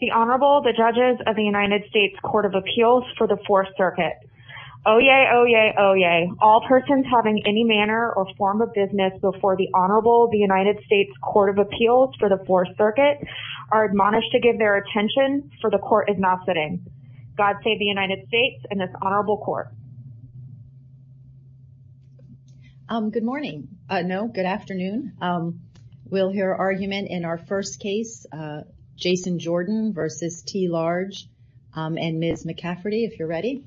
The Honorable, the Judges of the United States Court of Appeals for the Fourth Circuit. Oyez, oyez, oyez. All persons having any manner or form of business before the Honorable, the United States Court of Appeals for the Fourth Circuit are admonished to give their attention for the Court is now sitting. God save the United States and this Honorable Court. Good morning. No, good afternoon. We'll hear argument in our first case, Jason Jordan v. T. Large and Ms. McCafferty, if you're ready.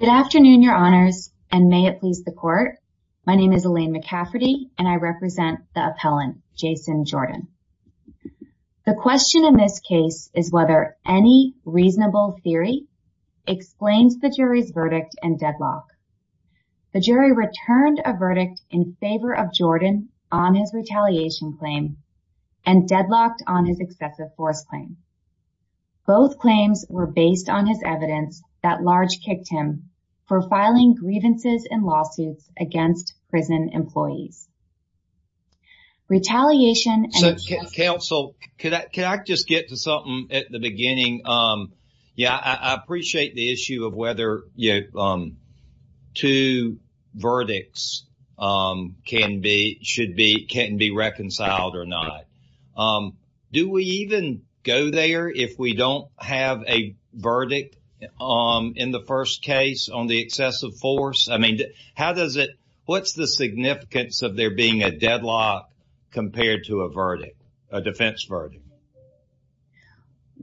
Good afternoon, Your Honors, and may it please the Court. My name is Elaine McCafferty and I represent the appellant, Jason Jordan. The question in this case is whether any reasonable theory explains the jury's verdict and deadlock. The jury returned a verdict in favor of Jordan on his retaliation claim and deadlocked on his excessive force claim. Both claims were based on his evidence that Large kicked him for filing grievances and lawsuits against prison employees. Retaliation and- Counsel, can I just get to something at the beginning? Yeah, I appreciate the issue of whether two verdicts can be, should be, can be reconciled or not. Do we even go there if we don't have a verdict in the first case on the excessive force? I mean, how does it, what's the significance of there being a deadlock compared to a verdict, a defense verdict?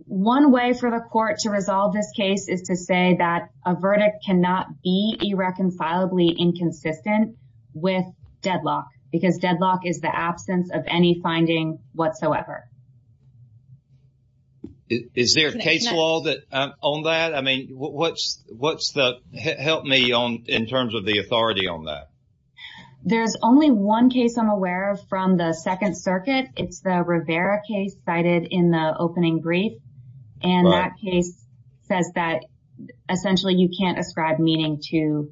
One way for the Court to resolve this case is to say that a verdict cannot be irreconcilably inconsistent with deadlock because deadlock is the absence of any finding whatsoever. Is there a case law on that? I mean, what's the, help me on, in terms of the authority on that? There's only one case I'm aware of from the Second Circuit. It's the Rivera case cited in the opening brief. And that case says that essentially you can't ascribe meaning to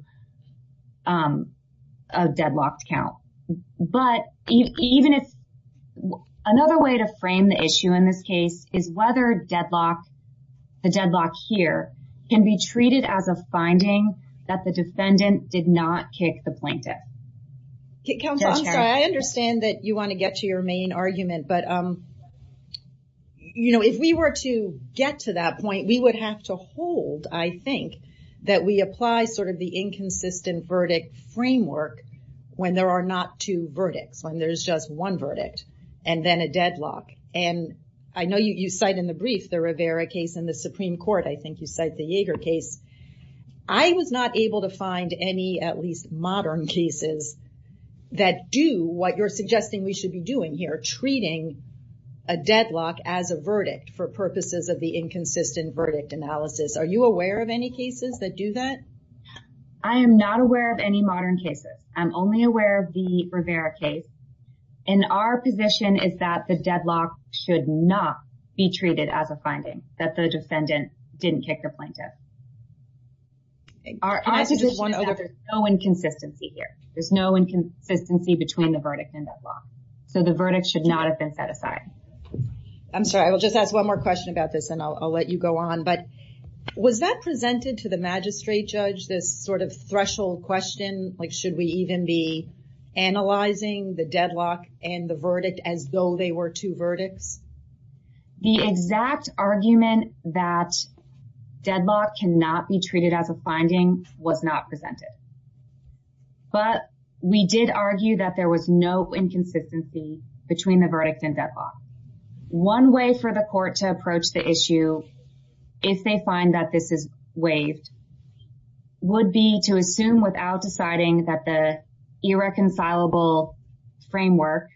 a deadlocked count. But even if, another way to frame the issue in this case is whether deadlock, the deadlock here, can be treated as a finding that the defendant did not kick the plaintiff. Counsel, I'm sorry, I understand that you want to get to your main argument. But, you know, if we were to get to that point, we would have to hold, I think, that we apply sort of the inconsistent verdict framework when there are not two verdicts, when there's just one verdict and then a deadlock. And I know you cite in the brief the Rivera case in the Supreme Court. I think you cite the Yeager case. I was not able to find any, at least modern cases, that do what you're suggesting we should be doing here, treating a deadlock as a verdict for purposes of the inconsistent verdict analysis. Are you aware of any cases that do that? I am not aware of any that the deadlock should not be treated as a finding, that the defendant didn't kick the plaintiff. There's no inconsistency here. There's no inconsistency between the verdict and the deadlock. So the verdict should not have been set aside. I'm sorry, I will just ask one more question about this and I'll let you go on. But was that presented to the magistrate judge, this sort of threshold question, like should we even be analyzing the deadlock and the verdict as though they were two verdicts? The exact argument that deadlock cannot be treated as a finding was not presented. But we did argue that there was no inconsistency between the verdict and deadlock. One way for the court to approach the issue, if they find that this is waived, would be to assume without deciding that the irreconcilable framework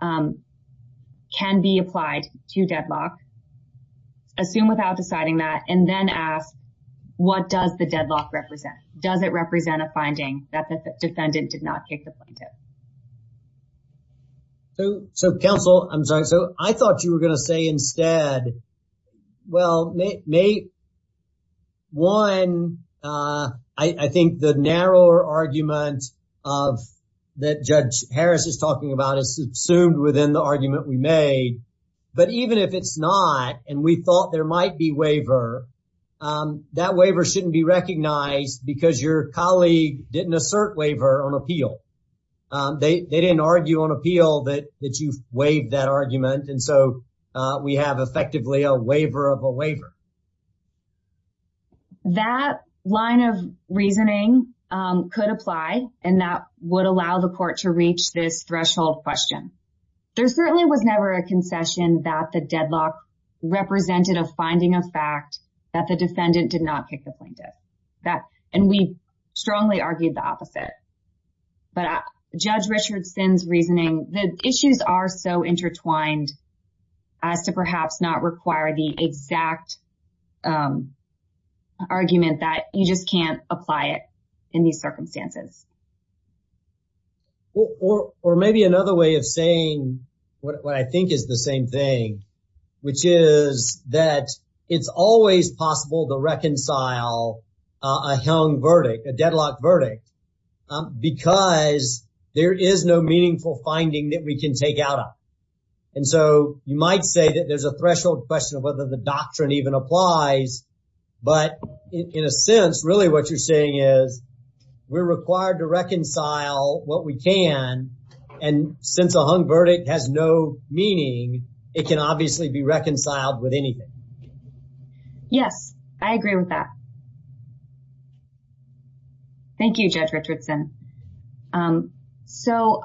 can be applied to deadlock. Assume without deciding that and then ask what does the deadlock represent? Does it represent a finding that the defendant did not kick the plaintiff? So counsel, I'm sorry, so I thought you were going to say instead, well, one, I think the narrower argument that Judge Harris is talking about is assumed within the argument we made. But even if it's not and we thought there might be waiver, that waiver shouldn't be recognized because your colleague didn't assert waiver on appeal. They didn't argue on appeal that that you've waived that argument. And so we have effectively a waiver of a waiver. That line of reasoning could apply and that would allow the court to reach this threshold question. There certainly was never a concession that the deadlock represented a finding of fact that the defendant did not kick the plaintiff. And we strongly argued the opposite. But Judge Richardson's reasoning, the issues are so intertwined as to perhaps not require the exact argument that you just can't apply it in these circumstances. Or maybe another way of saying what I think is the same thing, which is that it's always possible to reconcile a hung verdict, a deadlock verdict, because there is no meaningful finding that we can take out of. And so you might say that there's a threshold question of whether the doctrine even applies. But in a sense, really what you're saying is we're And since a hung verdict has no meaning, it can obviously be reconciled with anything. Yes, I agree with that. Thank you, Judge Richardson. So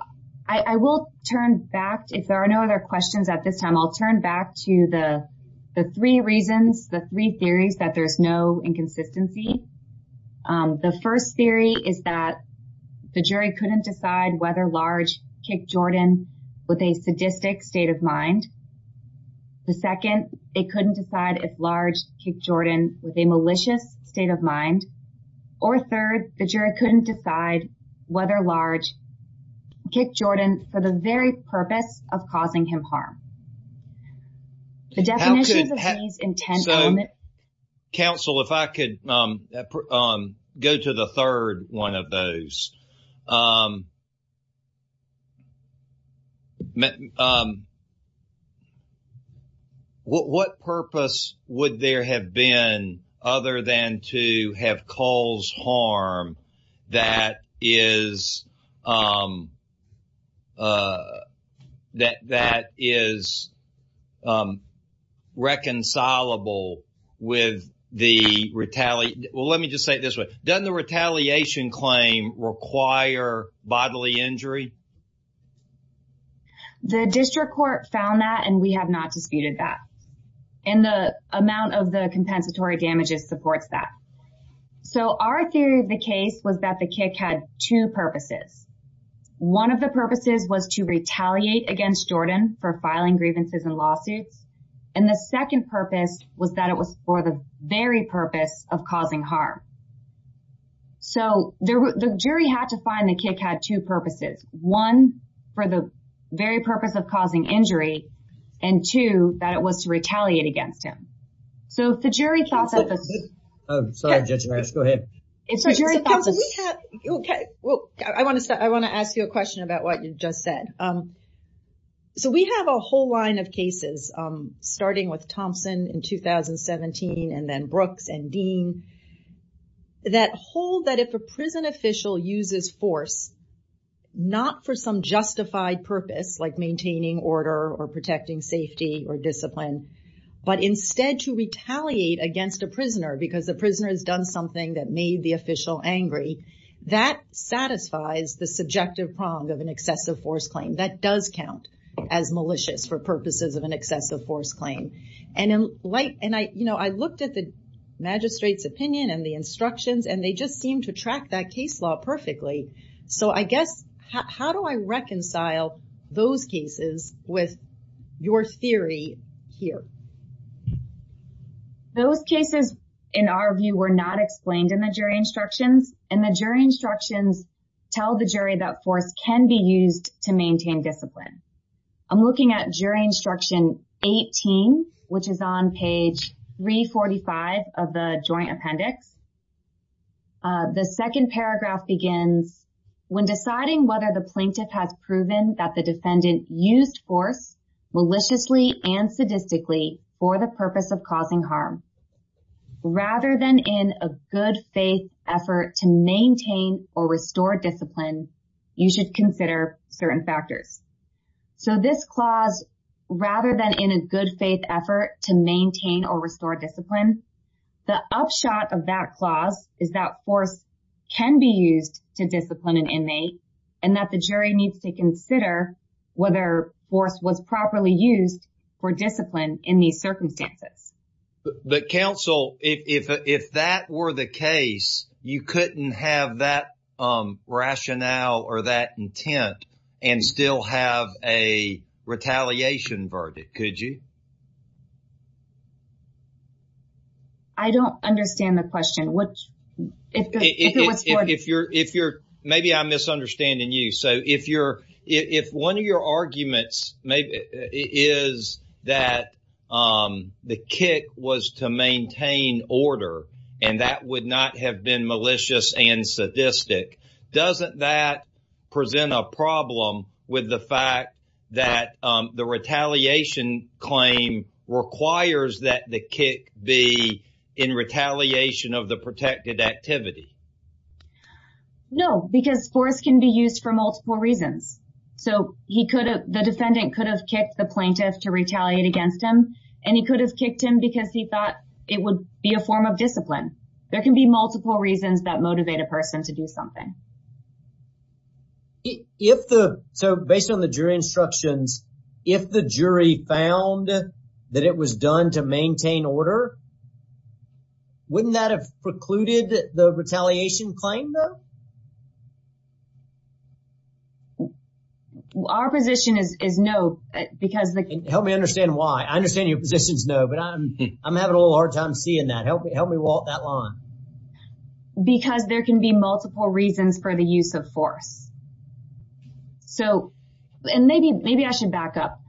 I will turn back, if there are no other questions at this time, I'll turn back to the three reasons, the three theories that there's no inconsistency. The first theory is that the jury couldn't decide whether Large kicked Jordan with a sadistic state of mind. The second, they couldn't decide if Large kicked Jordan with a malicious state of mind. Or third, the jury couldn't decide whether Large kicked Jordan for the very purpose of causing him harm. The definitions of these intent element. Counsel, if I could go to the third one of those. What purpose would there have been other than to have caused harm that is that that is reconcilable with the retaliation? Well, let me just say it this way. Doesn't the retaliation claim require bodily injury? The district court found that and we have not disputed that. And the amount of the compensatory damages supports that. So our theory of the case was that the kick had two purposes. One of the purposes was to retaliate against Jordan for filing grievances and lawsuits. And the second purpose was that it was for the very purpose of causing harm. So the jury had to find the kick had two purposes, one for the very purpose of causing injury, and two that it was to retaliate against him. So the I'm sorry, Judge Maris, go ahead. Okay, well, I want to start I want to ask you a question about what you just said. So we have a whole line of cases, starting with Thompson in 2017, and then Brooks and Dean, that hold that if a prison official uses force, not for some justified purpose, like maintaining order or protecting safety or discipline, but instead to retaliate against a prisoner because the prisoner has done something that made the official angry. That satisfies the subjective prong of an excessive force claim that does count as malicious for purposes of an excessive force claim. And in light and I, you know, I looked at the magistrate's opinion and the instructions, and they just seem to have a force theory here. Those cases, in our view, were not explained in the jury instructions, and the jury instructions tell the jury that force can be used to maintain discipline. I'm looking at jury instruction 18, which is on page 345 of the joint appendix. The second paragraph begins, when deciding whether the and sadistically for the purpose of causing harm, rather than in a good faith effort to maintain or restore discipline, you should consider certain factors. So this clause, rather than in a good faith effort to maintain or restore discipline, the upshot of that clause is that force can be used to for discipline in these circumstances. But counsel, if that were the case, you couldn't have that rationale or that intent and still have a retaliation verdict, could you? I don't understand the question. Which if you're if you're maybe I'm misunderstanding you. So if you're if one of your cases that the kick was to maintain order, and that would not have been malicious and sadistic, doesn't that present a problem with the fact that the retaliation claim requires that the kick be in retaliation of the protected activity? No, because force can be used for multiple reasons. So he could have the defendant could have kicked the retaliate against him. And he could have kicked him because he thought it would be a form of discipline. There can be multiple reasons that motivate a person to do something. If the so based on the jury instructions, if the jury found that it was done to maintain order, wouldn't that have precluded the retaliation claim though? Our position is no, because they can help me understand why I understand your position is no, but I'm, I'm having a little hard time seeing that help me help me walk that line. Because there can be multiple reasons for the use of force. So, and maybe maybe I should back up.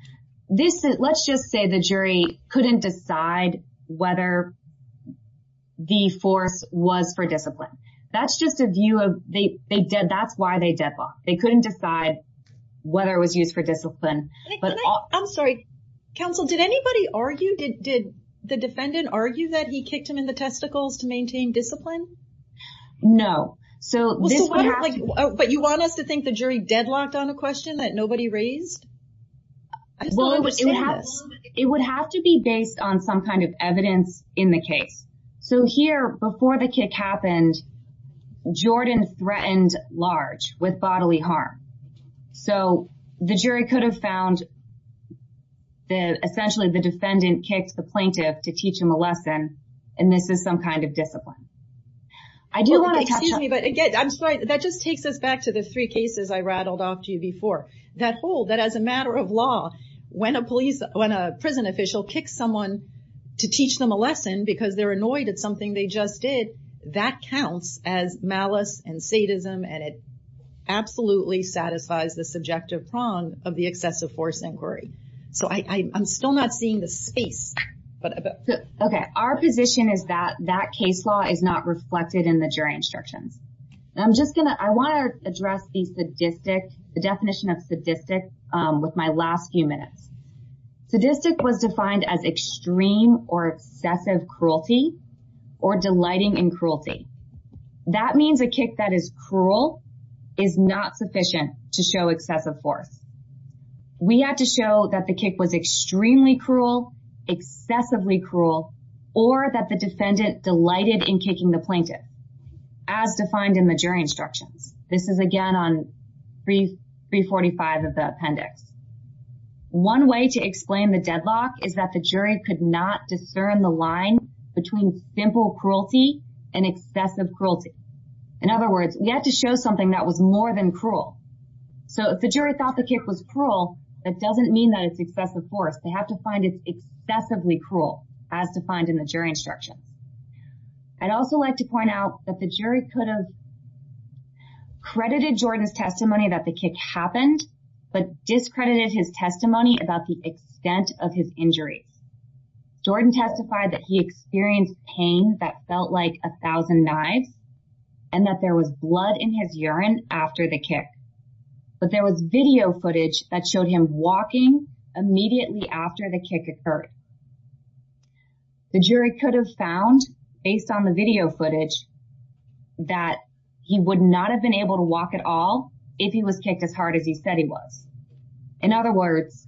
This is let's just say the jury couldn't decide whether the force was for discipline. That's just a view of the the they did. That's why they deadlocked. They couldn't decide whether it was used for discipline. I'm sorry, counsel, did anybody argue? Did did the defendant argue that he kicked him in the testicles to maintain discipline? No. So, but you want us to think the jury deadlocked on a question that nobody raised? Well, it would have to be based on some kind of evidence in the case. So here, before the kick happened, Jordan threatened large with bodily harm. So the jury could have found the essentially the defendant kicked the plaintiff to teach him a lesson. And this is some kind of discipline. I do want to excuse me, but again, I'm sorry, that just takes us back to the three cases I rattled off to you before that whole that as a matter of law, when a police when a prison official kicks someone to teach them a lesson, because they're annoyed at something they just did, that counts as malice and sadism. And it absolutely satisfies the subjective prong of the excessive force inquiry. So I'm still not seeing the space. Okay, our position is that that case law is not reflected in the jury instructions. I'm just gonna I want to the definition of sadistic. With my last few minutes, sadistic was defined as extreme or excessive cruelty, or delighting and cruelty. That means a kick that is cruel, is not sufficient to show excessive force. We had to show that the kick was extremely cruel, excessively cruel, or that the defendant delighted in kicking the plaintiff, as 345 of the appendix. One way to explain the deadlock is that the jury could not discern the line between simple cruelty and excessive cruelty. In other words, we had to show something that was more than cruel. So if the jury thought the kick was cruel, that doesn't mean that it's excessive force, they have to find it excessively cruel, as defined in jury instructions. I'd also like to point out that the jury could have credited Jordan's testimony that the kick happened, but discredited his testimony about the extent of his injuries. Jordan testified that he experienced pain that felt like 1000 knives, and that there was blood in his urine after the kick. But there was video footage that the jury could have found, based on the video footage, that he would not have been able to walk at all, if he was kicked as hard as he said he was. In other words,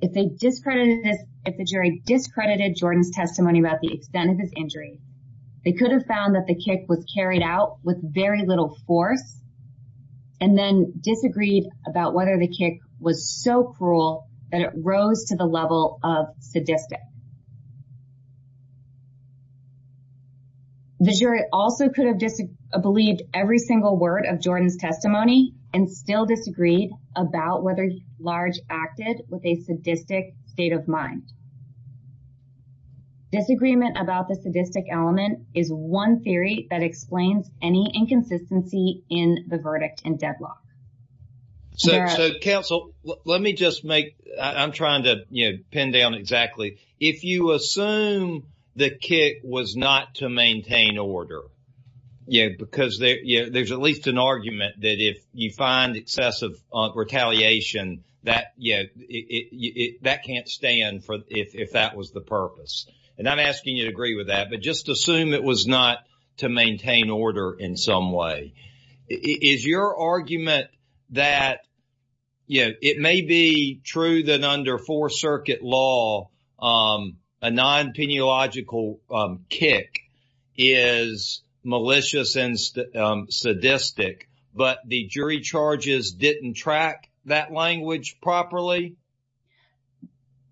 if they discredited this, if the jury discredited Jordan's testimony about the extent of his injury, they could have found that the kick was carried out with very little force, and then disagreed about whether the kick was so cruel that it rose to the level of sadistic. The jury also could have disbelieved every single word of Jordan's testimony and still disagreed about whether Large acted with a sadistic state of mind. Disagreement about the So counsel, let me just make, I'm trying to, you know, pin down exactly, if you assume the kick was not to maintain order. Yeah, because there's at least an argument that if you find excessive retaliation, that can't stand if that was the purpose. And I'm Yeah, it may be true that under Fourth Circuit law, a non-peneological kick is malicious and sadistic, but the jury charges didn't track that language properly?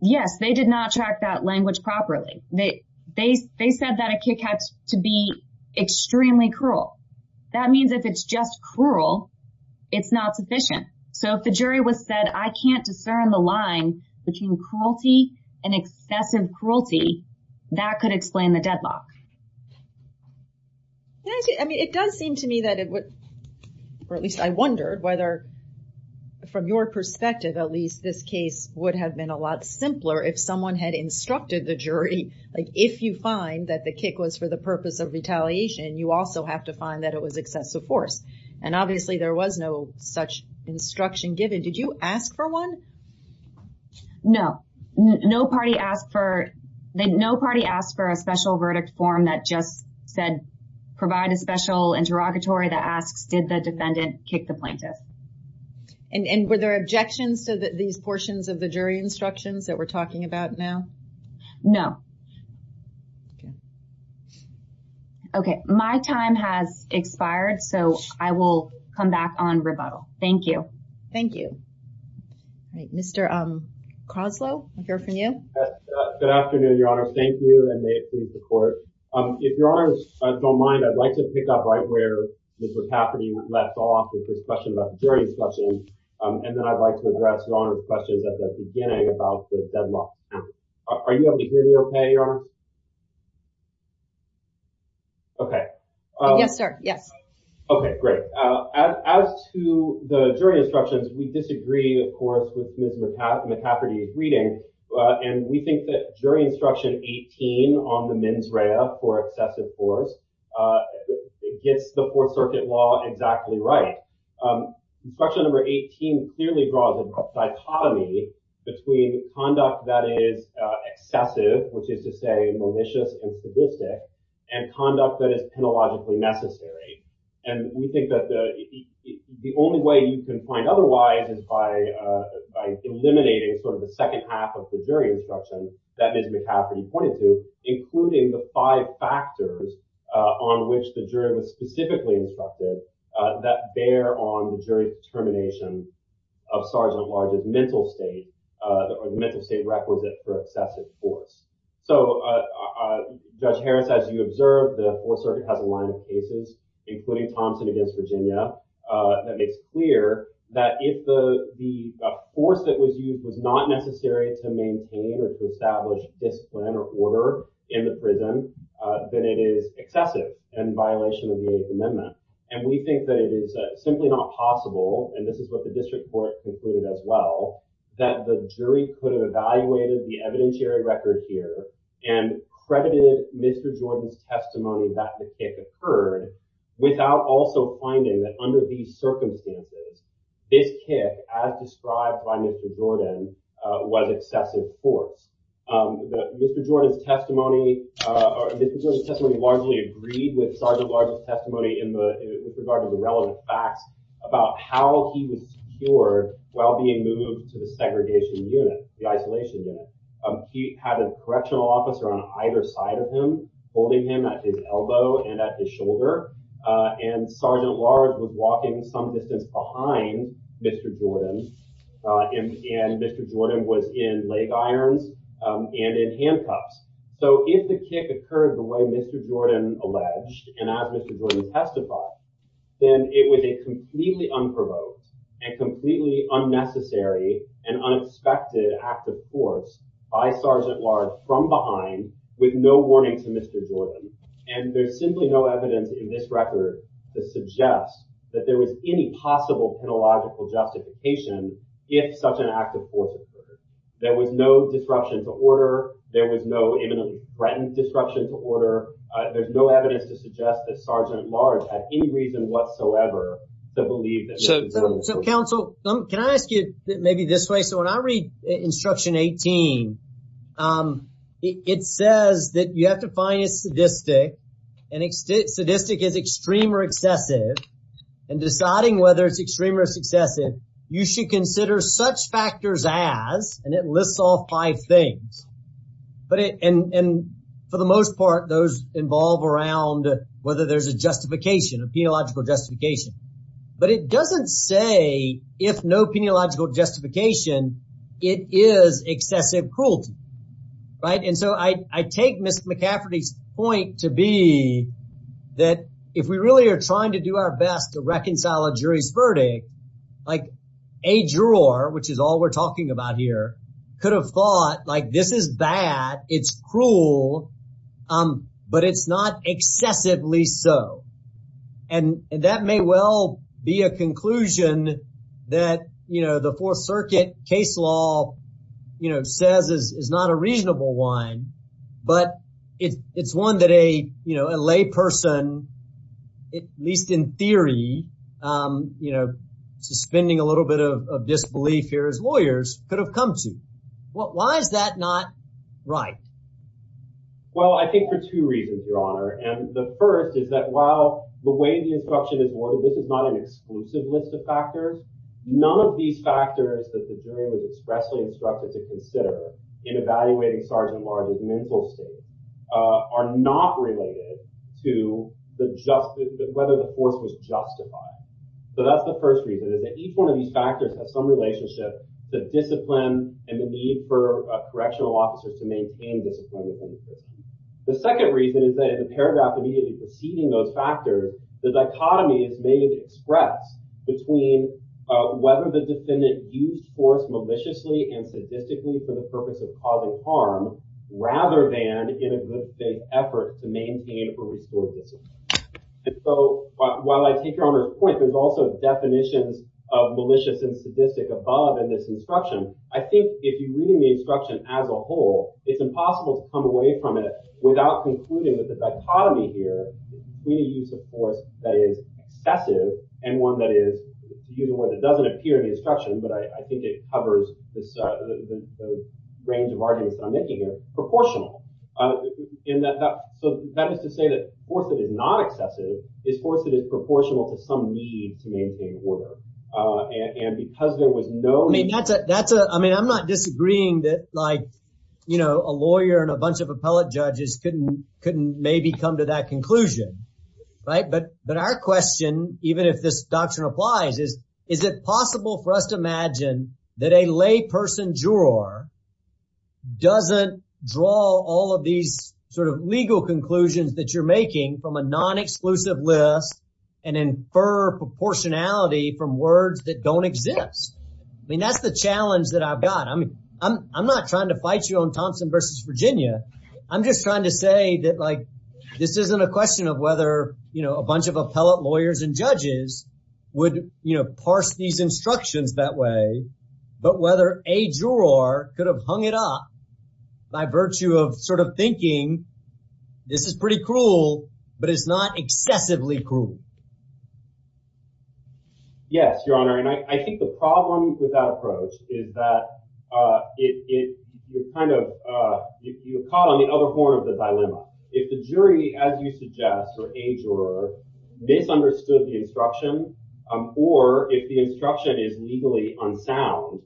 Yes, they did not track that language properly. They said that a kick had to be extremely cruel. That means if it's just cruel, it's not sufficient. So if the jury was said, I can't discern the line between cruelty and excessive cruelty, that could explain the deadlock. I mean, it does seem to me that it would, or at least I wondered whether, from your perspective, at least this case would have been a lot simpler if someone had instructed the jury, like if you find that the kick was for the purpose of retaliation, you also have to find that it was excessive force. And obviously there was no such instruction given. Did you ask for one? No, no party asked for, no party asked for a special verdict form that just said, provide a special interrogatory that asks, did the defendant kick the plaintiff? And were there objections to these portions of the jury instructions that we're talking about now? No. Okay, my time has expired. So I will come back on rebuttal. Thank you. Thank you. Mr. Croslow, I hear from you. Good afternoon, Your Honor. Thank you and may it please the court. If Your Honor don't mind, I'd like to pick up right where this was happening, left off with this question about jury discussion. And then I'd like to address Your Honor's questions at the beginning about the jury. Are you able to hear me okay, Your Honor? Okay. Yes, sir. Yes. Okay, great. As to the jury instructions, we disagree, of course, with Ms. McCafferty's reading. And we think that jury instruction 18 on the mens rea for excessive force gets the Fourth Circuit law exactly right. Instruction number 18 clearly draws a dichotomy between conduct that is excessive, which is to say malicious and sadistic, and conduct that is penologically necessary. And we think that the only way you can point otherwise is by eliminating sort of the second half of the jury perspective that bear on the jury's determination of Sgt. Large's mental state or the mental state requisite for excessive force. So, Judge Harris, as you observed, the Fourth Circuit has a line of cases, including Thompson against Virginia, that makes clear that if the force that was And we think that it is simply not possible, and this is what the district court concluded as well, that the jury could have evaluated the evidentiary record here and credited Mr. Jordan's testimony that the kick occurred without also finding that under these circumstances, this kick, as with regard to the relevant facts about how he was secured while being moved to the segregation unit, the isolation unit. He had a correctional officer on either side of him, holding him at his elbow and at his shoulder, and Sgt. Large was walking some distance behind Mr. Jordan, and Mr. Jordan was in the way of Sgt. Large, then it was a completely unprovoked and completely unnecessary and unexpected act of force by Sgt. Large from behind with no warning to Mr. Jordan. And there's simply no evidence in this record to suggest that there was any possible penological justification if such an act of So, counsel, can I ask you maybe this way? So when I read Instruction 18, it says that you have to find a sadistic, and sadistic is extreme or excessive, and deciding whether it's extreme or excessive, you should consider such factors as, and it lists all five things. And for the most part, those involve around whether there's a justification, a penological justification. But it doesn't say if no penological justification, it is excessive cruelty, right? And so I take Ms. McCafferty's point to be that if we really are trying to do our best to reconcile a jury's verdict, like a juror, which is all we're talking about here, could have thought like, this is bad, it's cruel, but it's not a person, at least in theory, you know, suspending a little bit of disbelief here as lawyers could have come to. Why is that not right? Well, I think for two reasons, Your Honor. And the first is that while the way the instruction is worded, this is not an exclusive list of factors, none of these factors that the jury was expressly instructed to consider in evaluating Sergeant Large's mental state are not related to whether the force was justified. So that's the first reason, is that each one of these factors have some relationship to discipline and the need for correctional officers to maintain discipline. The second reason is that in the paragraph immediately preceding those factors, the dichotomy is made express between whether the defendant used force maliciously and sadistically for the purpose of causing harm rather than in a good faith effort to maintain or restore discipline. And so while I take Your Honor's point, there's also definitions of malicious and sadistic above in this instruction. I think if you're reading the instruction as a whole, it's impossible to come away from it without concluding that the dichotomy here, we need to use a force that is excessive and one that doesn't appear in the instruction, but I think it covers the range of arguments that I'm making here, proportional. So that is to say that force that is not excessive is force that is proportional to some need to maintain order. And because there was no... I mean, I'm not disagreeing that a lawyer and a bunch of appellate judges couldn't maybe come to that conclusion. But our question, even if this doctrine applies, is, is it possible for us to imagine that a lay person juror doesn't draw all of these sort of legal conclusions that you're making from a non-exclusive list and infer proportionality from words that don't exist? I mean, that's the challenge that I've got. I mean, I'm not trying to fight you on Thompson versus Virginia. I'm just trying to say that, like, this isn't a question of whether, you know, a bunch of appellate lawyers and judges would, you know, parse these instructions that way, but whether a juror could have hung it up by virtue of sort of thinking this is pretty cruel, but it's not excessively cruel. Yes, Your Honor. And I think the problem with that approach is that it kind of, you're caught on the other horn of the dilemma. If the jury, as you suggest, or a juror, misunderstood the instruction, or if the instruction is legally unsound,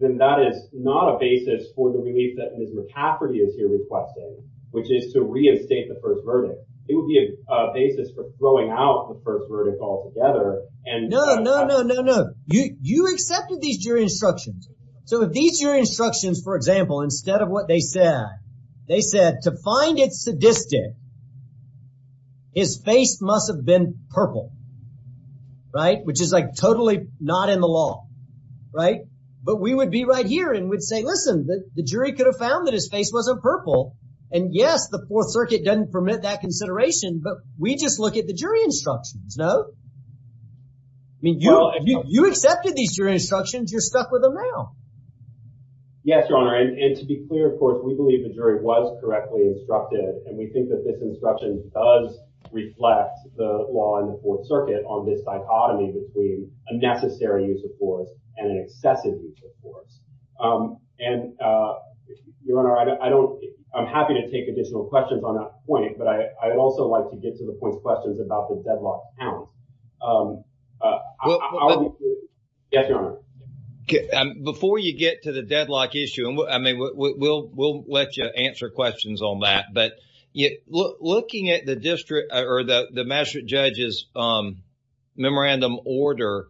then that is not a basis for the relief that Ms. McCafferty is here requesting, which is to reinstate the first verdict. It would be a basis for throwing out the first verdict altogether. No, no, no, no, no. You accepted these jury instructions. So if these jury instructions, for example, instead of what they said, they said, to find it sadistic, his face must have been purple, right, which is, like, totally not in the law, right? But we would be right here and we'd say, listen, the jury could have found that his face wasn't purple, and yes, the Fourth Circuit doesn't permit that consideration, but we just look at the jury instructions, no? I mean, you accepted these jury instructions. You're stuck with them now. Yes, Your Honor, and to be clear, of course, we believe the jury was correctly instructed, and we think that this instruction does reflect the law in the Fourth Circuit on this dichotomy between a necessary use of force and an excessive use of force. And, Your Honor, I don't – I'm happy to take additional questions on that point, but I'd also like to get to the point of questions about the deadlock count. Yes, Your Honor. Before you get to the deadlock issue, I mean, we'll let you answer questions on that, but looking at the district or the magistrate judge's memorandum order,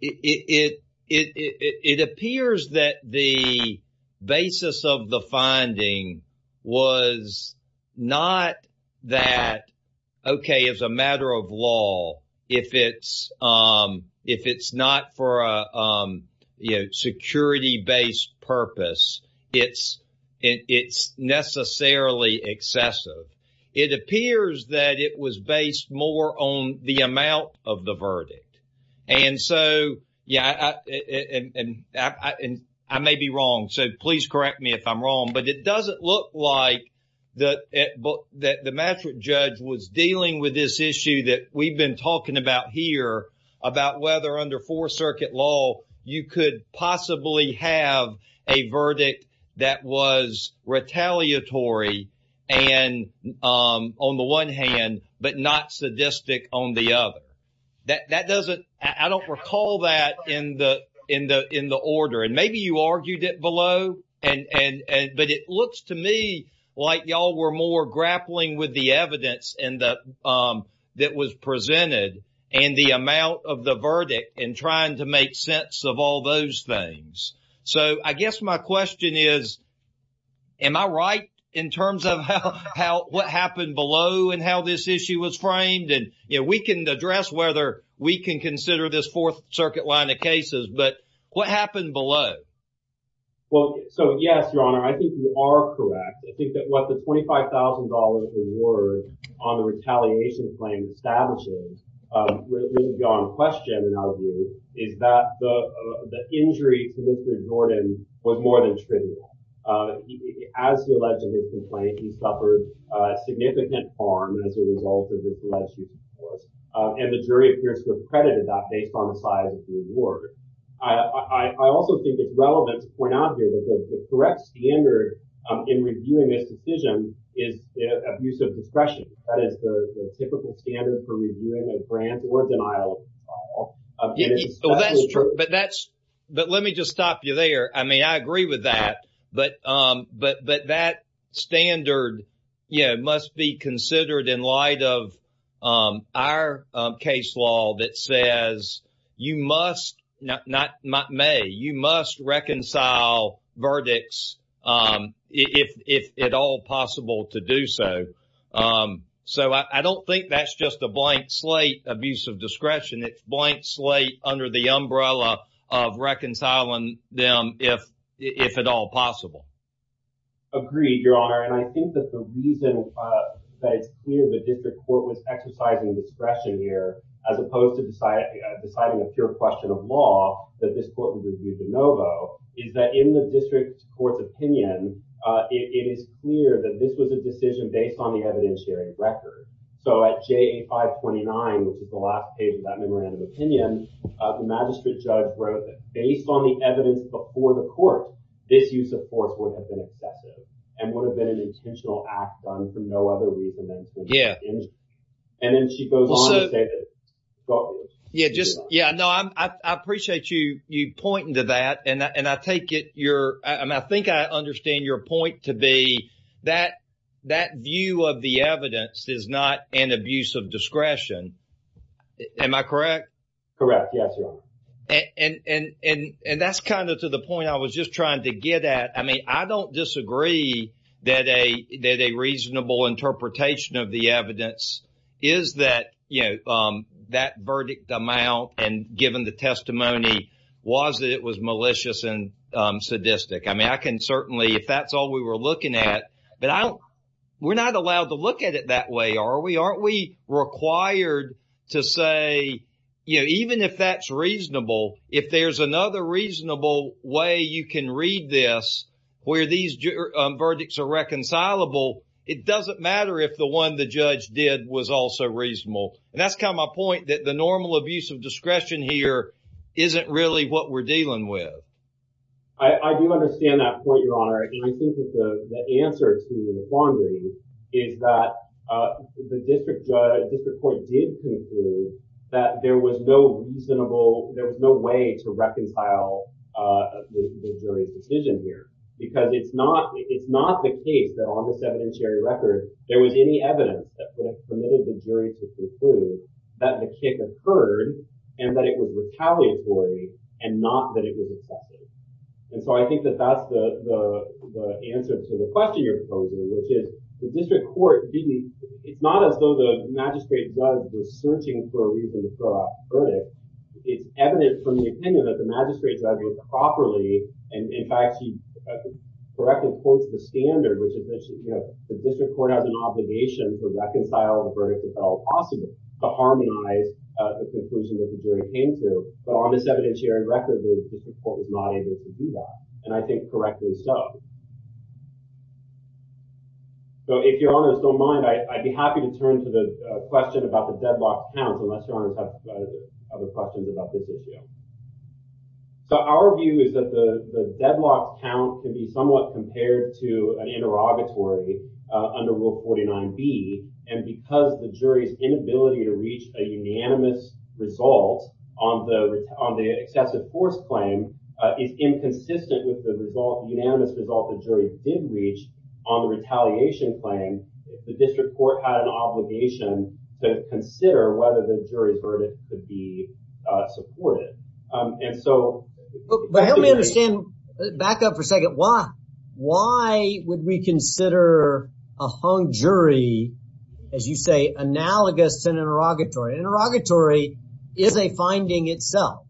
it appears that the basis of the finding was not that, OK, it's a matter of law. If it's not for a security-based purpose, it's necessarily excessive. It appears that it was based more on the amount of the verdict. And so, yeah, I may be wrong, so please correct me if I'm wrong, but it doesn't look like that the magistrate judge was dealing with this issue that we've been talking about here, about whether under Fourth Circuit law you could possibly have a verdict that was retaliatory on the one hand but not sadistic on the other. That doesn't – I don't recall that in the order, and maybe you argued it below, but it looks to me like y'all were more grappling with the evidence that was presented and the amount of the verdict and trying to make sense of all those things. So I guess my question is, am I right in terms of what happened below and how this issue was framed? And we can address whether we can consider this Fourth Circuit line of cases, but what happened below? Well, so yes, Your Honor, I think you are correct. I think that what the $25,000 reward on the retaliation claim establishes is beyond question in our view is that the injury to Mr. Jordan was more than trivial. That's true, but let me just stop you there. I mean, I agree with that. But that standard must be considered in light of our case law that says you must – not may – you must reconcile verdicts if at all possible to do so. So I don't think that's just a blank slate abuse of discretion. It's a blank slate under the umbrella of reconciling them if at all possible. Agreed, Your Honor. And I think that the reason that it's clear the district court was exercising discretion here as opposed to deciding a pure question of law that this court would review de novo is that in the district court's opinion, it is clear that this was a decision based on the evidentiary record. So at JA 529, which is the last page of that memorandum of opinion, the magistrate judge wrote that based on the evidence before the court, this use of force would have been excessive and would have been an intentional act done for no other reason than to – Yeah, I appreciate you pointing to that. And I take it – I think I understand your point to be that view of the evidence is not an abuse of discretion. Am I correct? Correct. Yes, Your Honor. And that's kind of to the point I was just trying to get at. I mean, I don't disagree that a reasonable interpretation of the evidence is that, you know, that verdict amount and given the testimony was that it was malicious and sadistic. I mean, I can certainly – if that's all we were looking at. But I don't – we're not allowed to look at it that way, are we? Aren't we required to say, you know, even if that's reasonable, if there's another reasonable way you can read this where these verdicts are reconcilable, it doesn't matter if the one the judge did was also reasonable. And that's kind of my point that the normal abuse of discretion here isn't really what we're dealing with. I do understand that point, Your Honor. And I think that the answer to the quandary is that the district court did conclude that there was no reasonable – there was no way to reconcile the jury's decision here because it's not the case that on this evidentiary record there was any evidence that permitted the jury to conclude that the kick occurred and that it was retaliatory and not that it was a theft. And so I think that that's the answer to the question you're posing, which is the district court didn't – it's not as though the magistrate was dissenting for a reason to throw out the verdict. It's evident from the opinion that the magistrate's argument properly – in fact, he correctly quotes the standard, which is that the district court has an obligation to reconcile the verdict if at all possible to harmonize the conclusion that the jury came to. But on this evidentiary record, the district court was not able to do that, and I think correctly so. So if Your Honors don't mind, I'd be happy to turn to the question about the deadlocked counts, unless Your Honors have other questions about this issue. So our view is that the deadlocked count can be somewhat compared to an interrogatory under Rule 49B, and because the jury's inability to reach a unanimous result on the excessive force claim is inconsistent with the unanimous result the jury did reach on the retaliation claim, the district court had an obligation to consider whether the jury's verdict could be supported. And so – But help me understand – back up for a second. Why would we consider a hung jury, as you say, analogous to an interrogatory? An interrogatory is a finding itself,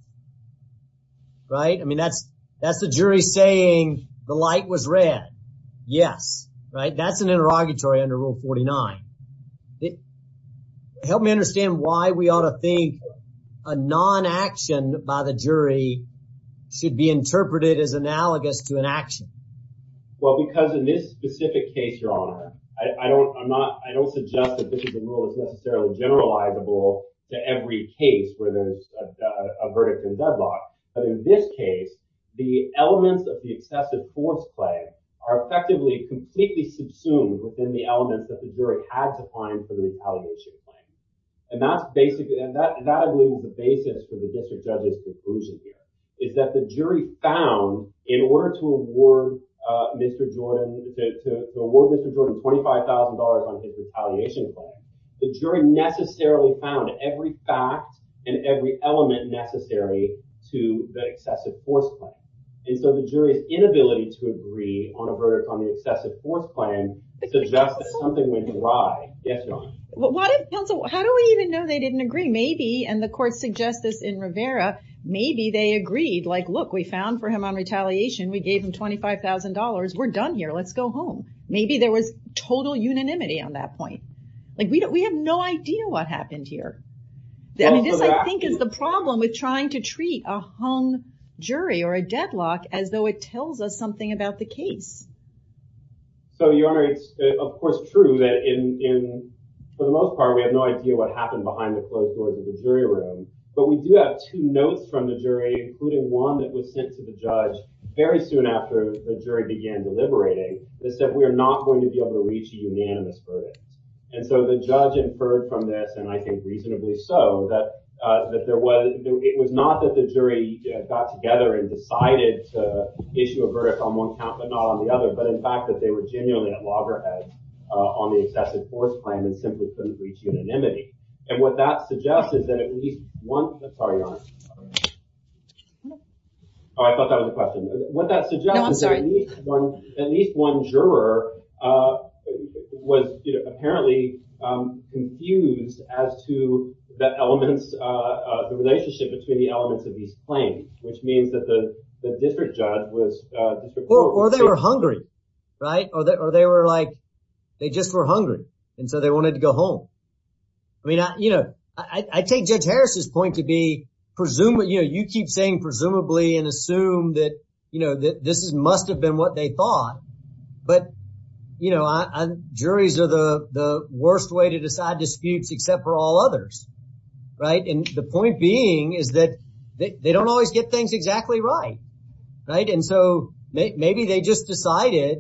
right? I mean, that's the jury saying the light was red. Yes, right? That's an interrogatory under Rule 49. Help me understand why we ought to think a non-action by the jury should be interpreted as analogous to an action. Well, because in this specific case, Your Honor, I don't suggest that this is a rule that's necessarily generalizable to every case where there's a verdict in deadlock. But in this case, the elements of the excessive force claim are effectively completely subsumed within the elements that the jury had to find for the retaliation claim. And that, I believe, was the basis for the district judge's conclusion here, is that the jury found, in order to award Mr. Jordan $25,000 on his retaliation claim, the jury necessarily found every fact and every element necessary to the excessive force claim. And so the jury's inability to agree on a verdict on the excessive force claim suggests that something went dry. Yes, Your Honor. How do we even know they didn't agree? Maybe, and the court suggests this in Rivera, maybe they agreed. Like, look, we found for him on retaliation. We gave him $25,000. We're done here. Let's go home. Maybe there was total unanimity on that point. Like, we have no idea what happened here. I mean, this, I think, is the problem with trying to treat a hung jury or a deadlock as though it tells us something about the case. So, Your Honor, it's, of course, true that in, for the most part, we have no idea what happened behind the closed doors of the jury room. But we do have two notes from the jury, including one that was sent to the judge very soon after the jury began deliberating that said we are not going to be able to reach a unanimous verdict. And so the judge inferred from this, and I think reasonably so, that it was not that the jury got together and decided to issue a verdict on one count but not on the other, but in fact that they were genuinely at loggerheads on the excessive force claim and simply couldn't reach unanimity. And what that suggests is that at least one, sorry, Your Honor. Oh, I thought that was a question. What that suggests is that at least one juror was apparently confused as to the relationship between the elements of these claims, which means that the district judge was, or they were hungry, right? Or they were like, they just were hungry, and so they wanted to go home. I mean, you know, I take Judge Harris's point to be, you know, you keep saying presumably and assume that, you know, that this must have been what they thought. But, you know, juries are the worst way to decide disputes except for all others, right? And the point being is that they don't always get things exactly right, right? And so maybe they just decided,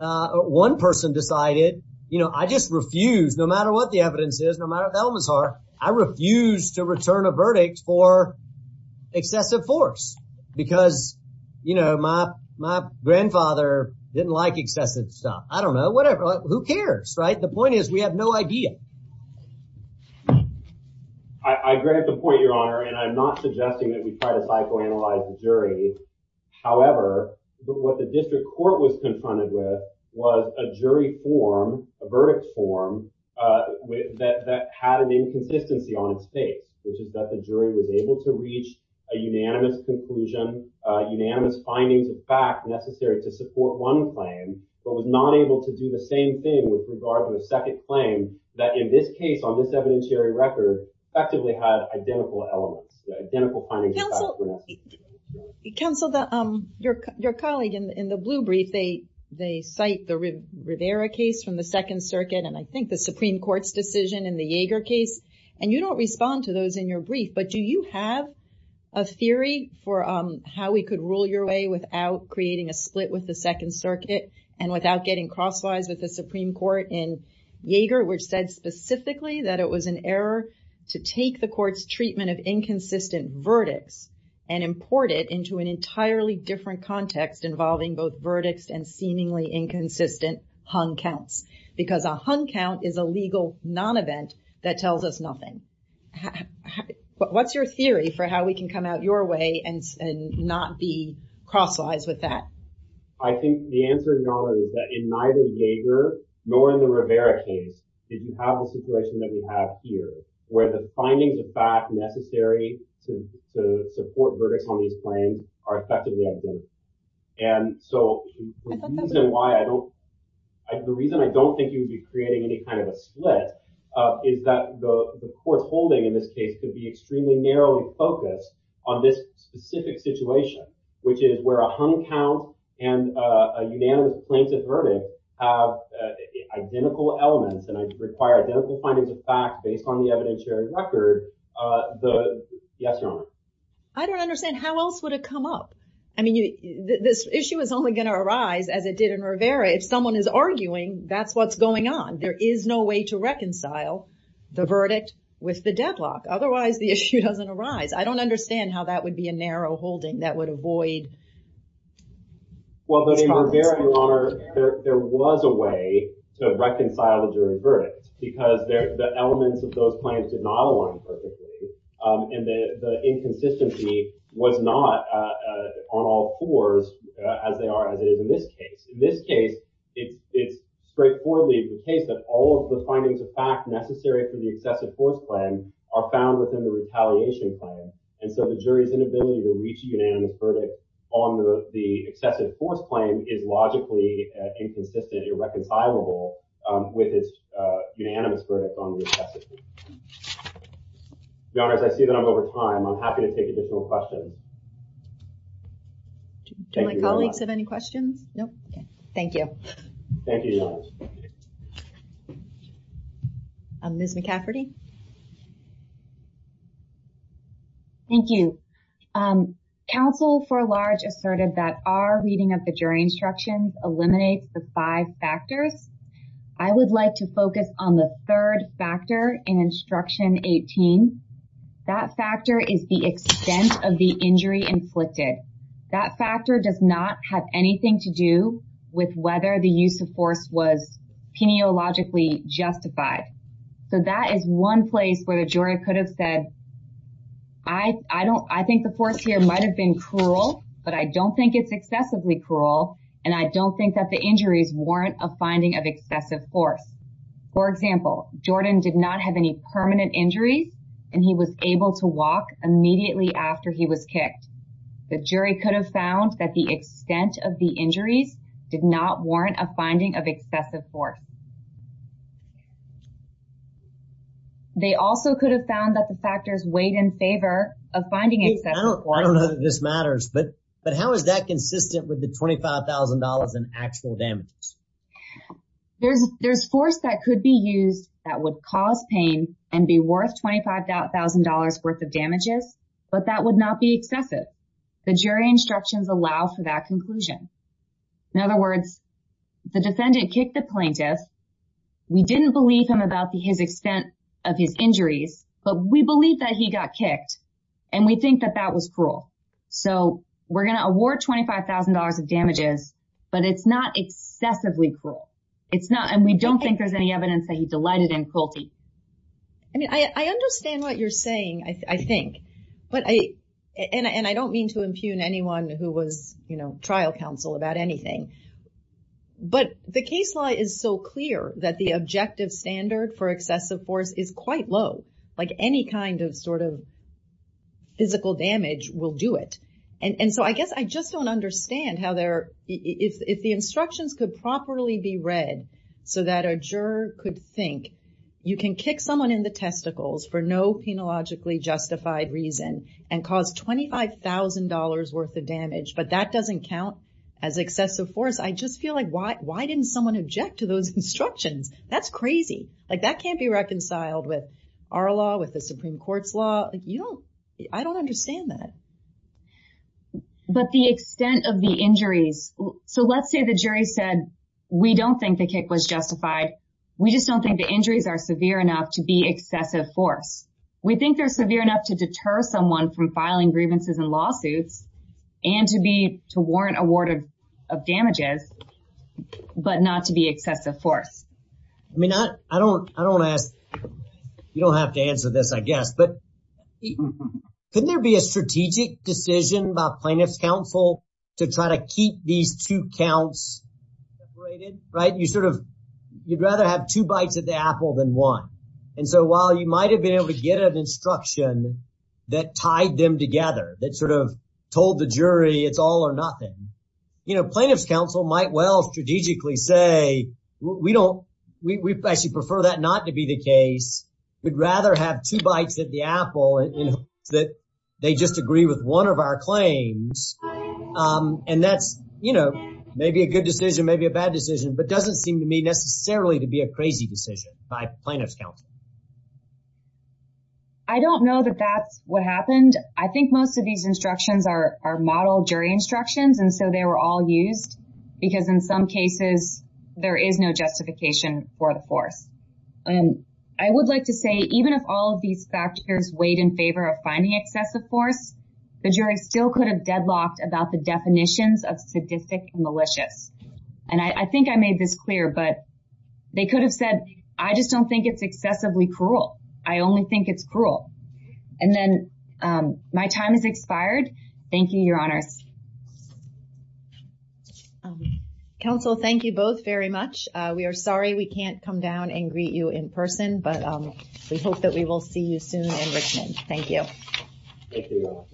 one person decided, you know, I just refuse, no matter what the evidence is, no matter what the elements are, I refuse to return a verdict for excessive force because, you know, my grandfather didn't like excessive stuff. I don't know, whatever, who cares, right? The point is we have no idea. I agree with the point, Your Honor, and I'm not suggesting that we try to psychoanalyze the jury. That in this case, on this evidentiary record, effectively had identical elements, identical findings. Counsel, your colleague in the blue brief, they cite the Rivera case from the Second Circuit, and I think the Supreme Court's decision in the Yeager case. And you don't respond to those in your brief, but do you have a theory for how we could rule your way without creating a split with the Second Circuit and without getting crosswise with the Supreme Court in Yeager, which said specifically that it was an error to take the court's treatment of inconsistent verdicts and import it into an entirely different context involving both verdicts and seemingly inconsistent hung counts. Because a hung count is a legal non-event that tells us nothing. What's your theory for how we can come out your way and not be crosswise with that? I think the answer, Your Honor, is that in neither Yeager nor in the Rivera case did you have the situation that we have here, where the findings of fact necessary to support verdicts on these claims are effectively identical. And so the reason why I don't, the reason I don't think you'd be creating any kind of a split is that the court's holding in this case could be extremely narrowly focused on this specific situation, which is where a hung count and a unanimous plaintiff verdict have identical elements and require identical findings of fact based on the evidentiary record, the, yes, Your Honor. I don't understand how else would it come up? I mean, this issue is only going to arise as it did in Rivera. If someone is arguing, that's what's going on. There is no way to reconcile the verdict with the deadlock. Otherwise, the issue doesn't arise. I don't understand how that would be a narrow holding that would avoid... was not on all fours as they are, as it is in this case. In this case, it's straightforwardly the case that all of the findings of fact necessary for the excessive force claim are found within the retaliation claim. And so the jury's inability to reach a unanimous verdict on the excessive force claim is logically inconsistent, irreconcilable with its unanimous verdict on the excessive force claim. Your Honor, I see that I'm over time. I'm happy to take additional questions. Do my colleagues have any questions? Nope. Thank you. Thank you, Your Honor. Ms. McCafferty. Thank you. Counsel for large asserted that our reading of the jury instructions eliminates the five factors. I would like to focus on the third factor in instruction 18. That factor is the extent of the injury inflicted. That factor does not have anything to do with whether the use of force was peniologically justified. So that is one place where the jury could have said, I think the force here might have been cruel, but I don't think it's excessively cruel. And I don't think that the injuries warrant a finding of excessive force. For example, Jordan did not have any permanent injuries, and he was able to walk immediately after he was kicked. The jury could have found that the extent of the injuries did not warrant a finding of excessive force. They also could have found that the factors weighed in favor of finding excessive force. I don't know that this matters, but how is that consistent with the $25,000 in actual damages? There's force that could be used that would cause pain and be worth $25,000 worth of damages, but that would not be excessive. The jury instructions allow for that conclusion. In other words, the defendant kicked the plaintiff. We didn't believe him about his extent of his injuries, but we believe that he got kicked. And we think that that was cruel. So we're going to award $25,000 of damages, but it's not excessively cruel. And we don't think there's any evidence that he delighted in cruelty. I mean, I understand what you're saying, I think. And I don't mean to impugn anyone who was, you know, trial counsel about anything. But the case law is so clear that the objective standard for excessive force is quite low. Like any kind of sort of physical damage will do it. And so I guess I just don't understand how there, if the instructions could properly be read so that a juror could think you can kick someone in the testicles for no penologically justified reason and cause $25,000 worth of damage, but that doesn't count as excessive force. I just feel like why didn't someone object to those instructions? That's crazy. Like that can't be reconciled with our law, with the Supreme Court's law. You don't, I don't understand that. But the extent of the injuries. So let's say the jury said, we don't think the kick was justified. We just don't think the injuries are severe enough to be excessive force. We think they're severe enough to deter someone from filing grievances and lawsuits. And to be, to warrant a ward of damages, but not to be excessive force. I mean, I don't, I don't ask, you don't have to answer this, I guess. But couldn't there be a strategic decision by plaintiff's counsel to try to keep these two counts separated, right? You sort of, you'd rather have two bites of the apple than one. And so while you might've been able to get an instruction that tied them together, that sort of told the jury it's all or nothing. You know, plaintiff's counsel might well strategically say, we don't, we actually prefer that not to be the case. We'd rather have two bites of the apple than they just agree with one of our claims. And that's, you know, maybe a good decision, maybe a bad decision, but doesn't seem to me necessarily to be a crazy decision by plaintiff's counsel. I don't know that that's what happened. I think most of these instructions are, are model jury instructions. And so they were all used because in some cases there is no justification for the force. I would like to say, even if all of these factors weighed in favor of finding excessive force, the jury still could have deadlocked about the definitions of sadistic and malicious. And I think I made this clear, but they could have said, I just don't think it's excessively cruel. I only think it's cruel. And then my time has expired. Thank you, your honors. Counsel, thank you both very much. We are sorry we can't come down and greet you in person, but we hope that we will see you soon in Richmond. Thank you. Thank you.